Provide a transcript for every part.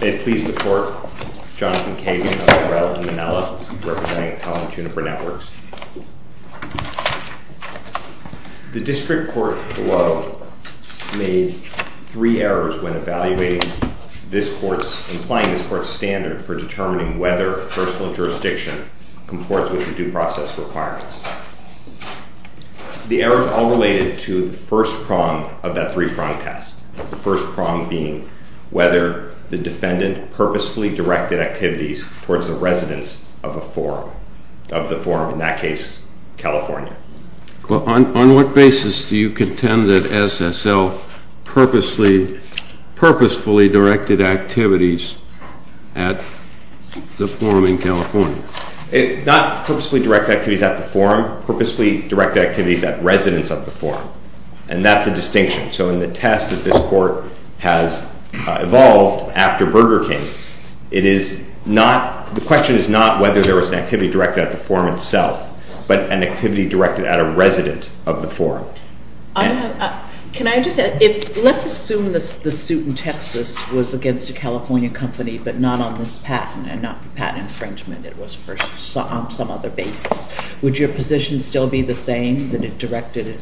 May it please the Court, Jonathan Kagan of the Morell & Manella, representing the Townhall and Juniper Networks. The District Court below made three errors when evaluating this Court's, implying this Court's standard for determining whether personal jurisdiction comports with the due process requirements. The errors all related to the first prong of that three-prong test, the first prong being whether the defendant purposefully directed activities towards the residence of a forum, of the forum, in that case, California. On what basis do you contend that SSL purposefully directed activities at the forum in California? Not purposefully directed activities at the forum, purposefully directed activities at residence of the forum, and that's a distinction. So in the test that this Court has evolved after Burger King, it is not, the question is not whether there was an activity directed at the forum itself, but an activity directed at a resident of the forum. Can I just add, let's assume the suit in Texas was against a California company, but not on this patent, and not for patent infringement, it was on some other basis. Would your position still be the same, that it directed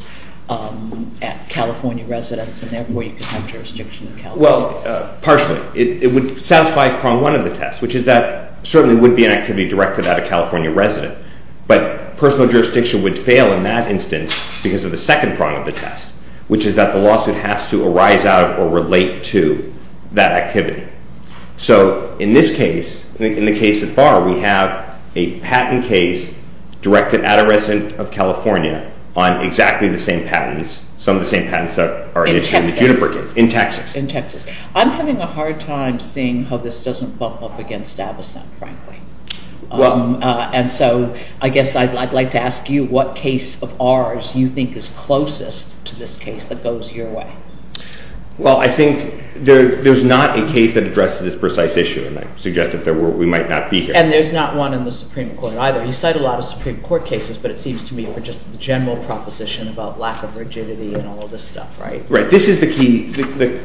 at California residents, and therefore you could have jurisdiction in California? Well, partially. It would satisfy prong one of the test, which is that certainly would be an activity directed at a California resident. But personal jurisdiction would fail in that instance because of the second prong of the test, which is that the lawsuit has to arise out or relate to that activity. So in this case, in the case of Barr, we have a patent case directed at a resident of California on exactly the same patents, some of the same patents that are issued in the Juniper case. In Texas. In Texas. In Texas. I'm having a hard time seeing how this doesn't bump up against Avocen, frankly. And so I guess I'd like to ask you what case of ours you think is closest to this case that goes your way. Well, I think there's not a case that addresses this precise issue, and I suggest that we might not be here. And there's not one in the Supreme Court either. You cite a lot of Supreme Court cases, but it seems to me they're just a general proposition about lack of rigidity and all this stuff, right? Right. The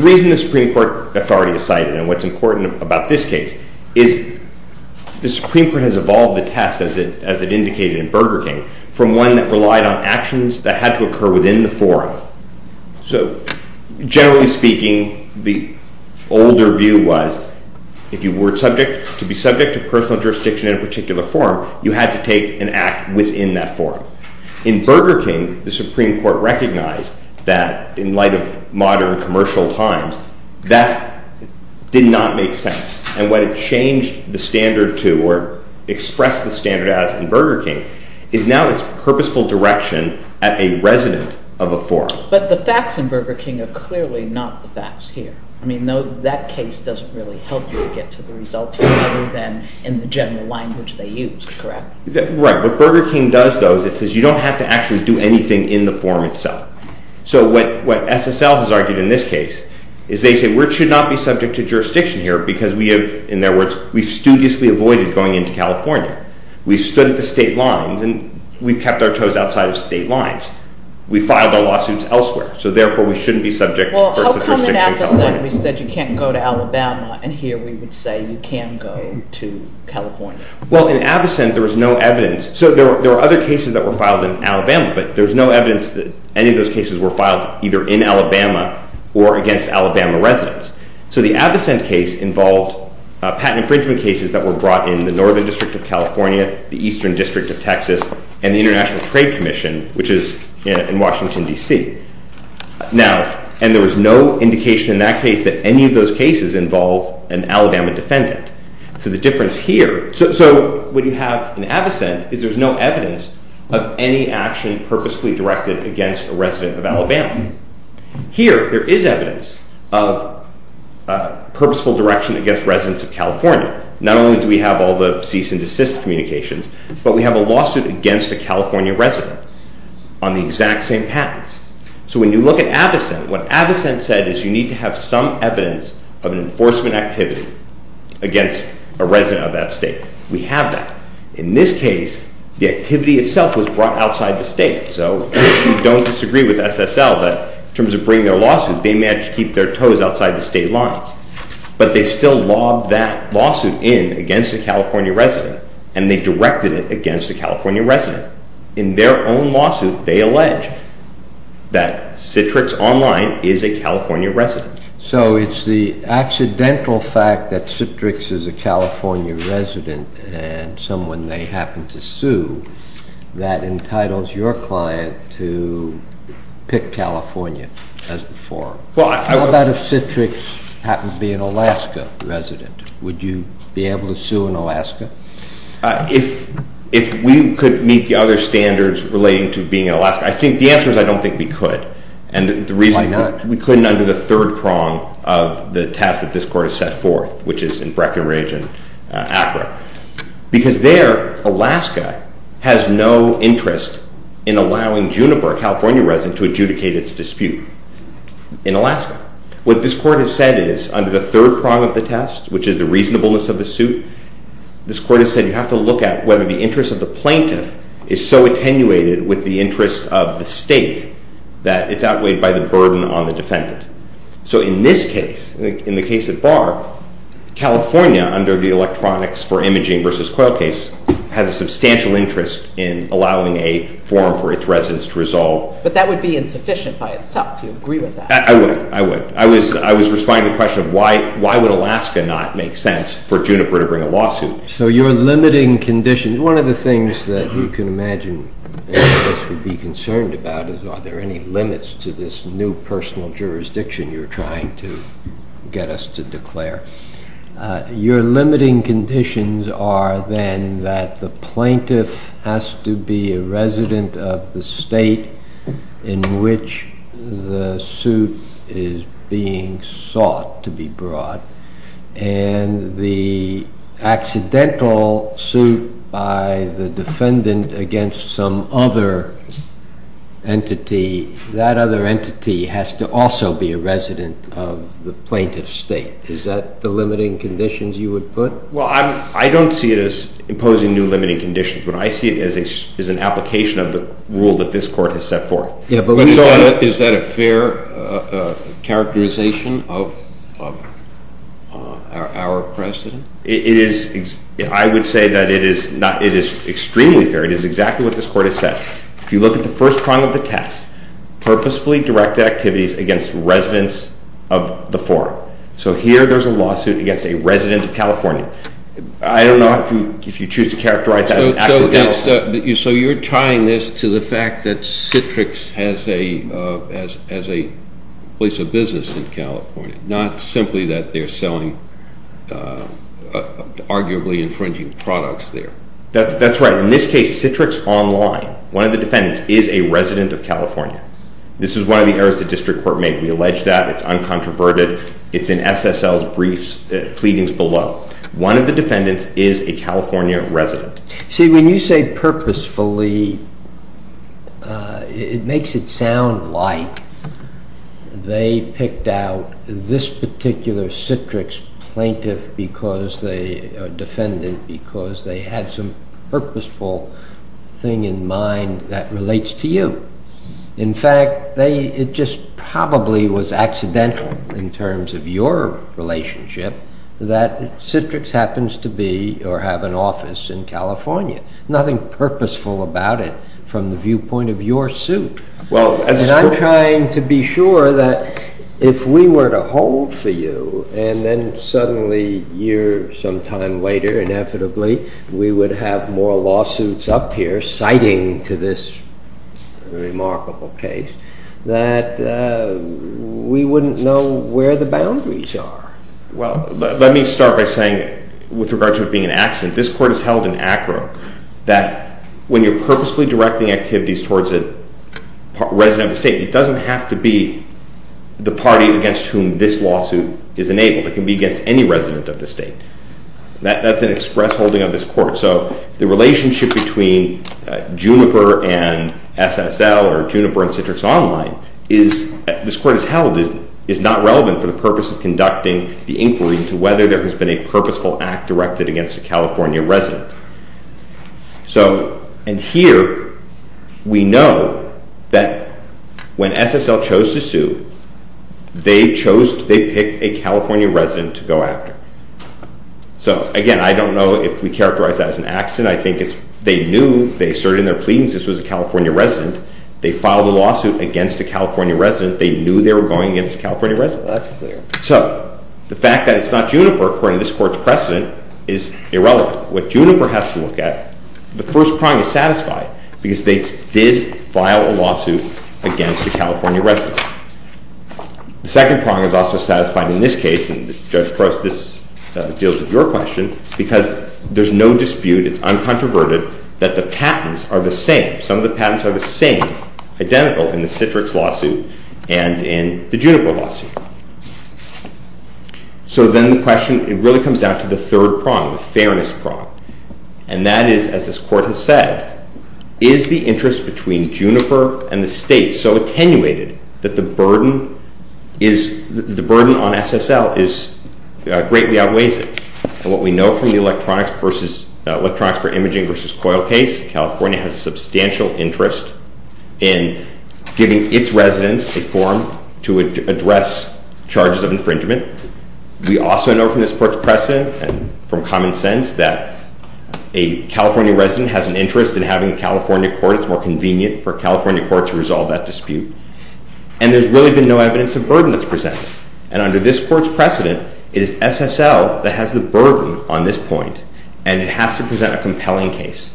reason the Supreme Court authority is cited and what's important about this case is the Supreme Court has evolved the test, as it indicated in Burger King, from one that relied on actions that had to occur within the forum. So generally speaking, the older view was if you were to be subject to personal jurisdiction in a particular forum, you had to take an act within that forum. In Burger King, the Supreme Court recognized that in light of modern commercial times, that did not make sense. And what it changed the standard to, or expressed the standard as in Burger King, is now its purposeful direction at a resident of a forum. But the facts in Burger King are clearly not the facts here. I mean, that case doesn't really help you get to the result here other than in the general language they used, correct? Right. What Burger King does, though, is it says you don't have to actually do anything in the forum itself. So what SSL has argued in this case is they say we should not be subject to jurisdiction here because we have, in their words, we've studiously avoided going into California. We've stood at the state lines, and we've kept our toes outside of state lines. We've filed our lawsuits elsewhere, so therefore we shouldn't be subject to personal jurisdiction in California. Well, how come in Abyssinia we said you can't go to Alabama, and here we would say you can go to California? Well, in Abyssinia there was no evidence. So there were other cases that were filed in Alabama, but there was no evidence that any of those cases were filed either in Alabama or against Alabama residents. So the Abyssinia case involved patent infringement cases that were brought in the Northern District of California, the Eastern District of Texas, and the International Trade Commission, which is in Washington, D.C. Now, and there was no indication in that case that any of those cases involved an Alabama defendant. So the difference here – so what you have in Abyssinia is there's no evidence of any action purposefully directed against a resident of Alabama. Here, there is evidence of purposeful direction against residents of California. Not only do we have all the cease and desist communications, but we have a lawsuit against a California resident on the exact same patents. So when you look at Abyssinia, what Abyssinia said is you need to have some evidence of an enforcement activity against a resident of that state. We have that. In this case, the activity itself was brought outside the state. So we don't disagree with SSL that in terms of bringing their lawsuit, they managed to keep their toes outside the state line. But they still lobbed that lawsuit in against a California resident, and they directed it against a California resident. In their own lawsuit, they allege that Citrix Online is a California resident. So it's the accidental fact that Citrix is a California resident and someone they happen to sue that entitles your client to pick California as the forum. How about if Citrix happened to be an Alaska resident? Would you be able to sue an Alaska? If we could meet the other standards relating to being in Alaska, I think the answer is I don't think we could. Why not? We couldn't under the third prong of the test that this court has set forth, which is in Breckenridge and Accra. Because there, Alaska has no interest in allowing Juniper, a California resident, to adjudicate its dispute in Alaska. What this court has said is, under the third prong of the test, which is the reasonableness of the suit, this court has said you have to look at whether the interest of the plaintiff is so attenuated with the interest of the state that it's outweighed by the burden on the defendant. So in this case, in the case at Barr, California, under the Electronics for Imaging v. Coil case, has a substantial interest in allowing a forum for its residents to resolve. But that would be insufficient by itself. Do you agree with that? I would. I would. I was responding to the question of why would Alaska not make sense for Juniper to bring a lawsuit. So you're limiting conditions. One of the things that you can imagine that this would be concerned about is are there any limits to this new personal jurisdiction you're trying to get us to declare. Your limiting conditions are then that the plaintiff has to be a resident of the state in which the suit is being sought to be brought, and the accidental suit by the defendant against some other entity, that other entity has to also be a resident of the plaintiff's state. Is that the limiting conditions you would put? Well, I don't see it as imposing new limiting conditions. What I see is an application of the rule that this court has set forth. Yeah, but is that a fair characterization of our precedent? It is. I would say that it is extremely fair. It is exactly what this court has set. If you look at the first part of the test, purposefully directed activities against residents of the forum. So here there's a lawsuit against a resident of California. I don't know if you choose to characterize that as accidental. So you're tying this to the fact that Citrix has a place of business in California, not simply that they're selling arguably infringing products there. That's right. In this case, Citrix Online, one of the defendants, is a resident of California. This is one of the errors the district court made. We allege that. It's uncontroverted. It's in SSL's briefs, pleadings below. One of the defendants is a California resident. See, when you say purposefully, it makes it sound like they picked out this particular Citrix plaintiff or defendant because they had some purposeful thing in mind that relates to you. In fact, it just probably was accidental in terms of your relationship that Citrix happens to be or have an office in California. Nothing purposeful about it from the viewpoint of your suit. And I'm trying to be sure that if we were to hold for you and then suddenly a year sometime later, inevitably, we would have more lawsuits up here citing to this remarkable case, that we wouldn't know where the boundaries are. Well, let me start by saying, with regard to it being an accident, this court has held in ACRA that when you're purposefully directing activities towards a resident of the state, it doesn't have to be the party against whom this lawsuit is enabled. It can be against any resident of the state. That's an express holding of this court. So the relationship between Juniper and SSL or Juniper and Citrix Online, this court has held, is not relevant for the purpose of conducting the inquiry into whether there has been a purposeful act directed against a California resident. And here, we know that when SSL chose to sue, they picked a California resident to go after. So again, I don't know if we characterize that as an accident. I think they knew, they asserted in their pleadings this was a California resident. They filed a lawsuit against a California resident. They knew they were going against a California resident. That's clear. So the fact that it's not Juniper, according to this court's precedent, is irrelevant. What Juniper has to look at, the first prong is satisfied because they did file a lawsuit against a California resident. The second prong is also satisfied in this case, and Judge Pross, this deals with your question, because there's no dispute. It's uncontroverted that the patents are the same. Some of the patents are the same, identical in the Citrix lawsuit and in the Juniper lawsuit. So then the question, it really comes down to the third prong, the fairness prong. And that is, as this court has said, is the interest between Juniper and the state so attenuated that the burden on SSL greatly outweighs it? And what we know from the electronics for imaging versus coil case, California has a substantial interest in giving its residents a form to address charges of infringement. We also know from this court's precedent and from common sense that a California resident has an interest in having a California court. It's more convenient for a California court to resolve that dispute. And there's really been no evidence of burden that's presented. And under this court's precedent, it is SSL that has the burden on this point. And it has to present a compelling case.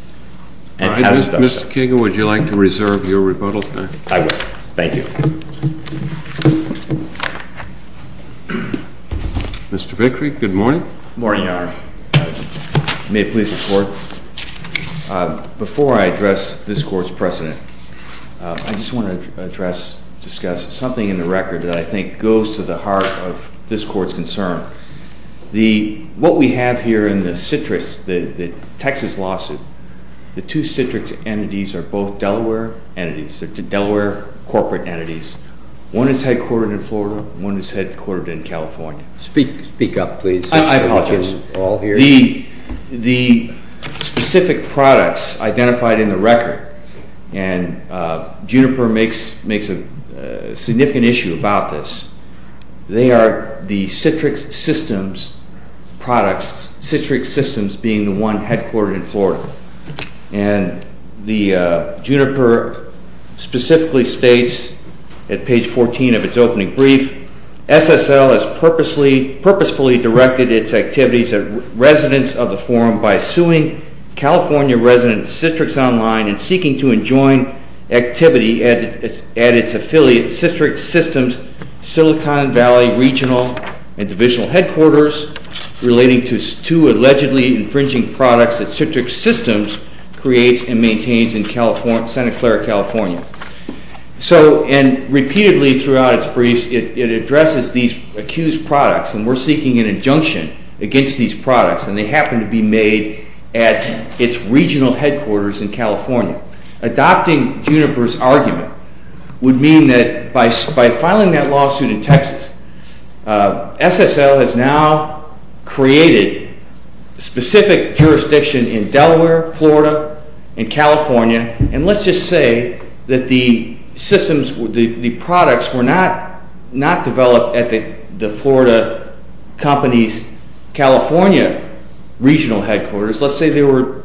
Mr. King, would you like to reserve your rebuttal tonight? I would. Thank you. Mr. Vickery, good morning. Good morning, Your Honor. May it please the court. Before I address this court's precedent, I just want to address, discuss something in the record that I think goes to the heart of this court's concern. What we have here in the Citrix, the Texas lawsuit, the two Citrix entities are both Delaware entities. They're Delaware corporate entities. One is headquartered in Florida. One is headquartered in California. Speak up, please. I apologize. We can all hear you. The specific products identified in the record, and Juniper makes a significant issue about this, they are the Citrix Systems products, Citrix Systems being the one headquartered in Florida. And the Juniper specifically states at page 14 of its opening brief, SSL has purposefully directed its activities at residents of the forum by suing California resident Citrix Online and seeking to enjoin activity at its affiliate Citrix Systems Silicon Valley regional and divisional headquarters relating to two allegedly infringing products that Citrix Systems creates and maintains in Santa Clara, California. So, and repeatedly throughout its briefs, it addresses these accused products, and we're seeking an injunction against these products, and they happen to be made at its regional headquarters in California. Adopting Juniper's argument would mean that by filing that lawsuit in Texas, SSL has now created specific jurisdiction in Delaware, Florida, and California, and let's just say that the systems, the products were not developed at the Florida company's California regional headquarters. Let's say they were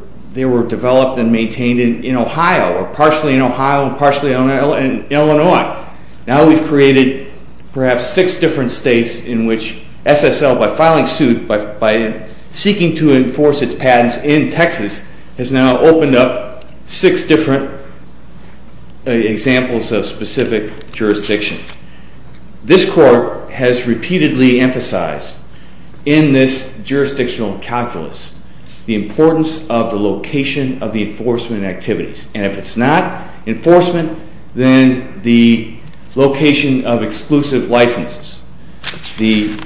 developed and maintained in Ohio or partially in Ohio and partially in Illinois. Now we've created perhaps six different states in which SSL, by filing suit, by seeking to enforce its patents in Texas, has now opened up six different examples of specific jurisdiction. This court has repeatedly emphasized in this jurisdictional calculus the importance of the location of the enforcement activities, and if it's not enforcement, then the location of exclusive licenses. And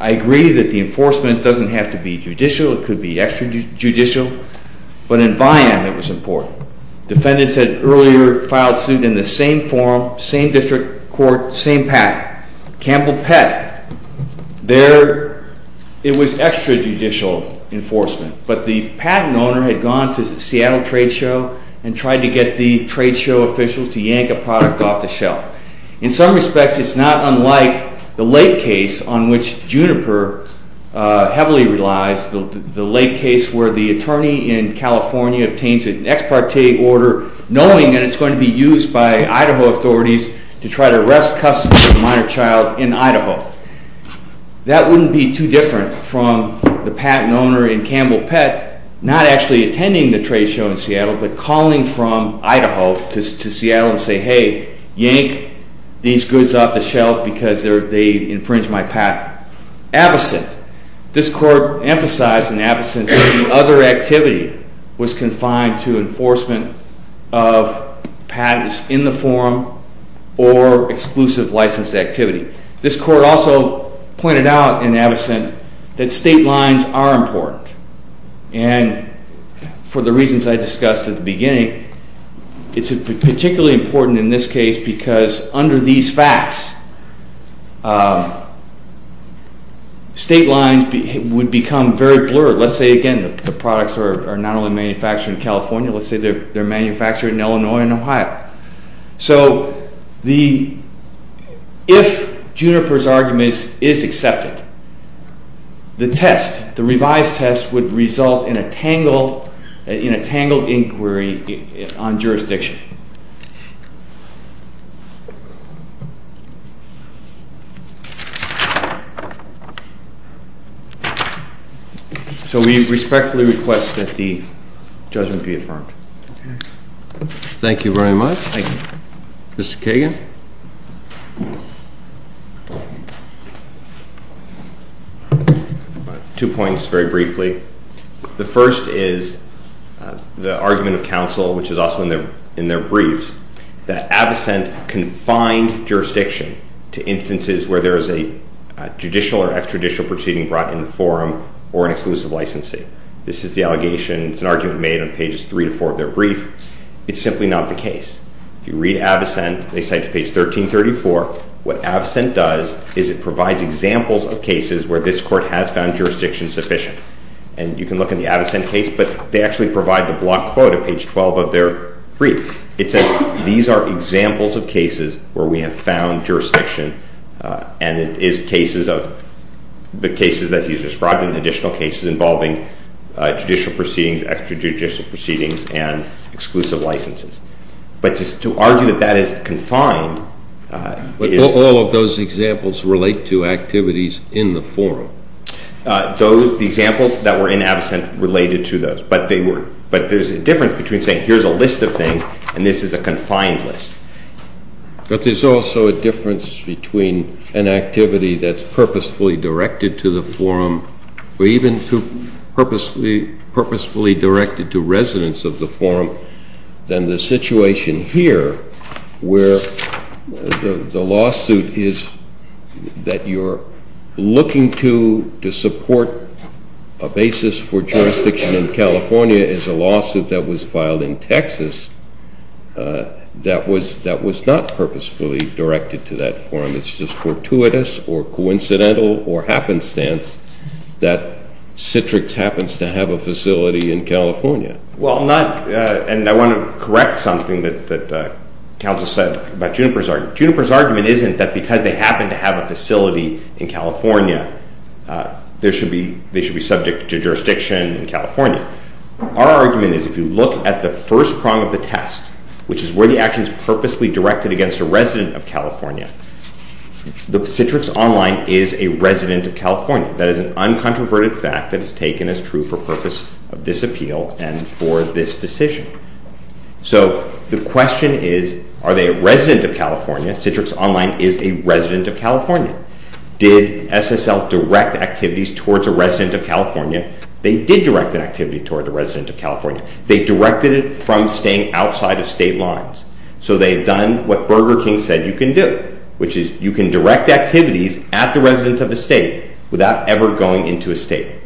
I agree that the enforcement doesn't have to be judicial. It could be extrajudicial, but in VIAM, it was important. Defendants had earlier filed suit in the same forum, same district court, same patent. Campbell-Pett, there it was extrajudicial enforcement, but the patent owner had gone to the Seattle trade show and tried to get the trade show officials to yank a product off the shelf. In some respects, it's not unlike the Lake case on which Juniper heavily relies, the Lake case where the attorney in California obtains an ex parte order knowing that it's going to be used by Idaho authorities to try to arrest custody of a minor child in Idaho. That wouldn't be too different from the patent owner in Campbell-Pett not actually attending the trade show in Seattle, but calling from Idaho to Seattle and saying, hey, yank these goods off the shelf because they infringed my patent. Avocent. This court emphasized in Avocent that the other activity was confined to enforcement of patents in the forum or exclusive license activity. This court also pointed out in Avocent that state lines are important, and for the reasons I discussed at the beginning, it's particularly important in this case because under these facts, state lines would become very blurred. Let's say, again, the products are not only manufactured in California. Let's say they're manufactured in Illinois and Ohio. So if Juniper's argument is accepted, the test, the revised test would result in a tangled inquiry on jurisdiction. So we respectfully request that the judgment be affirmed. Thank you very much. Thank you. Mr. Kagan. Two points very briefly. The first is the argument of counsel, which is also in their brief, that Avocent confined jurisdiction to instances where there is a judicial or extraditional proceeding brought in the forum or an exclusive licensee. This is the allegation. It's an argument made on pages 3 to 4 of their brief. It's simply not the case. If you read Avocent, they cite to page 1334. What Avocent does is it provides examples of cases where this court has found jurisdiction sufficient. And you can look in the Avocent case, but they actually provide the block quote at page 12 of their brief. It says, these are examples of cases where we have found jurisdiction, and it is cases of the cases that he's described in additional cases involving judicial proceedings, extraditional proceedings, and exclusive licenses. But to argue that that is confined is- But all of those examples relate to activities in the forum. The examples that were in Avocent related to those. But there's a difference between saying here's a list of things and this is a confined list. But there's also a difference between an activity that's purposefully directed to the forum or even purposefully directed to residents of the forum than the situation here where the lawsuit is that you're looking to support a basis for jurisdiction in California is a lawsuit that was filed in Texas that was not purposefully directed to that forum. It's just fortuitous or coincidental or happenstance that Citrix happens to have a facility in California. Well, I'm not- And I want to correct something that counsel said about Juniper's argument. Juniper's argument isn't that because they happen to have a facility in California, they should be subject to jurisdiction in California. Our argument is if you look at the first prong of the test, which is where the action is purposely directed against a resident of California, the Citrix Online is a resident of California. That is an uncontroverted fact that is taken as true for purpose of this appeal and for this decision. So the question is, are they a resident of California? Citrix Online is a resident of California. Did SSL direct activities towards a resident of California? They did direct an activity toward a resident of California. They directed it from staying outside of state lines. So they've done what Burger King said you can do, which is you can direct activities at the residence of a state without ever going into a state.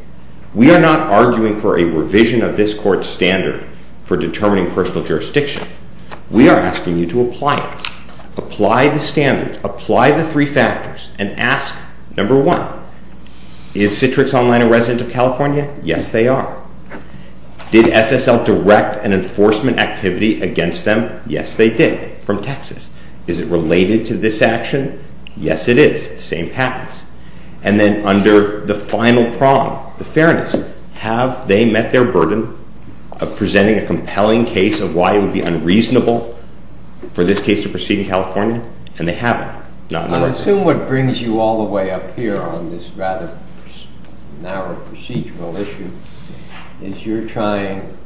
We are not arguing for a revision of this court's standard for determining personal jurisdiction. We are asking you to apply it. Apply the three factors and ask, number one, is Citrix Online a resident of California? Yes, they are. Did SSL direct an enforcement activity against them? Yes, they did, from Texas. Is it related to this action? Yes, it is. Same happens. And then under the final prong, the fairness, have they met their burden of presenting a compelling case of why it would be unreasonable for this case to proceed in California? And they haven't. I assume what brings you all the way up here on this rather narrow procedural issue is you're trying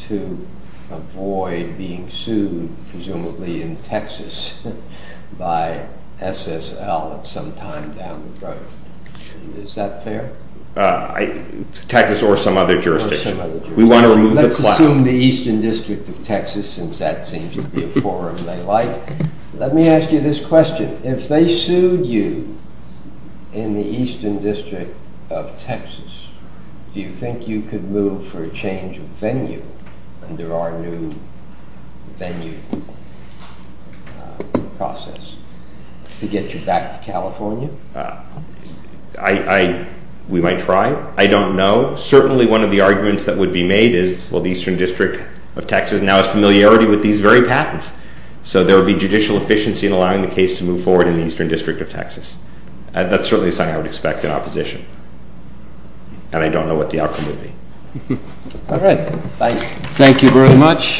to avoid being sued, presumably in Texas, by SSL at some time down the road. Is that fair? Texas or some other jurisdiction. We want to remove the platform. Let's assume the Eastern District of Texas, since that seems to be a forum they like. Let me ask you this question. If they sued you in the Eastern District of Texas, do you think you could move for a change of venue under our new venue process to get you back to California? We might try. I don't know. Certainly one of the arguments that would be made is, well, the Eastern District of Texas now has familiarity with these very patents, so there would be judicial efficiency in allowing the case to move forward in the Eastern District of Texas. That's certainly something I would expect in opposition. And I don't know what the outcome would be. All right. Thank you very much.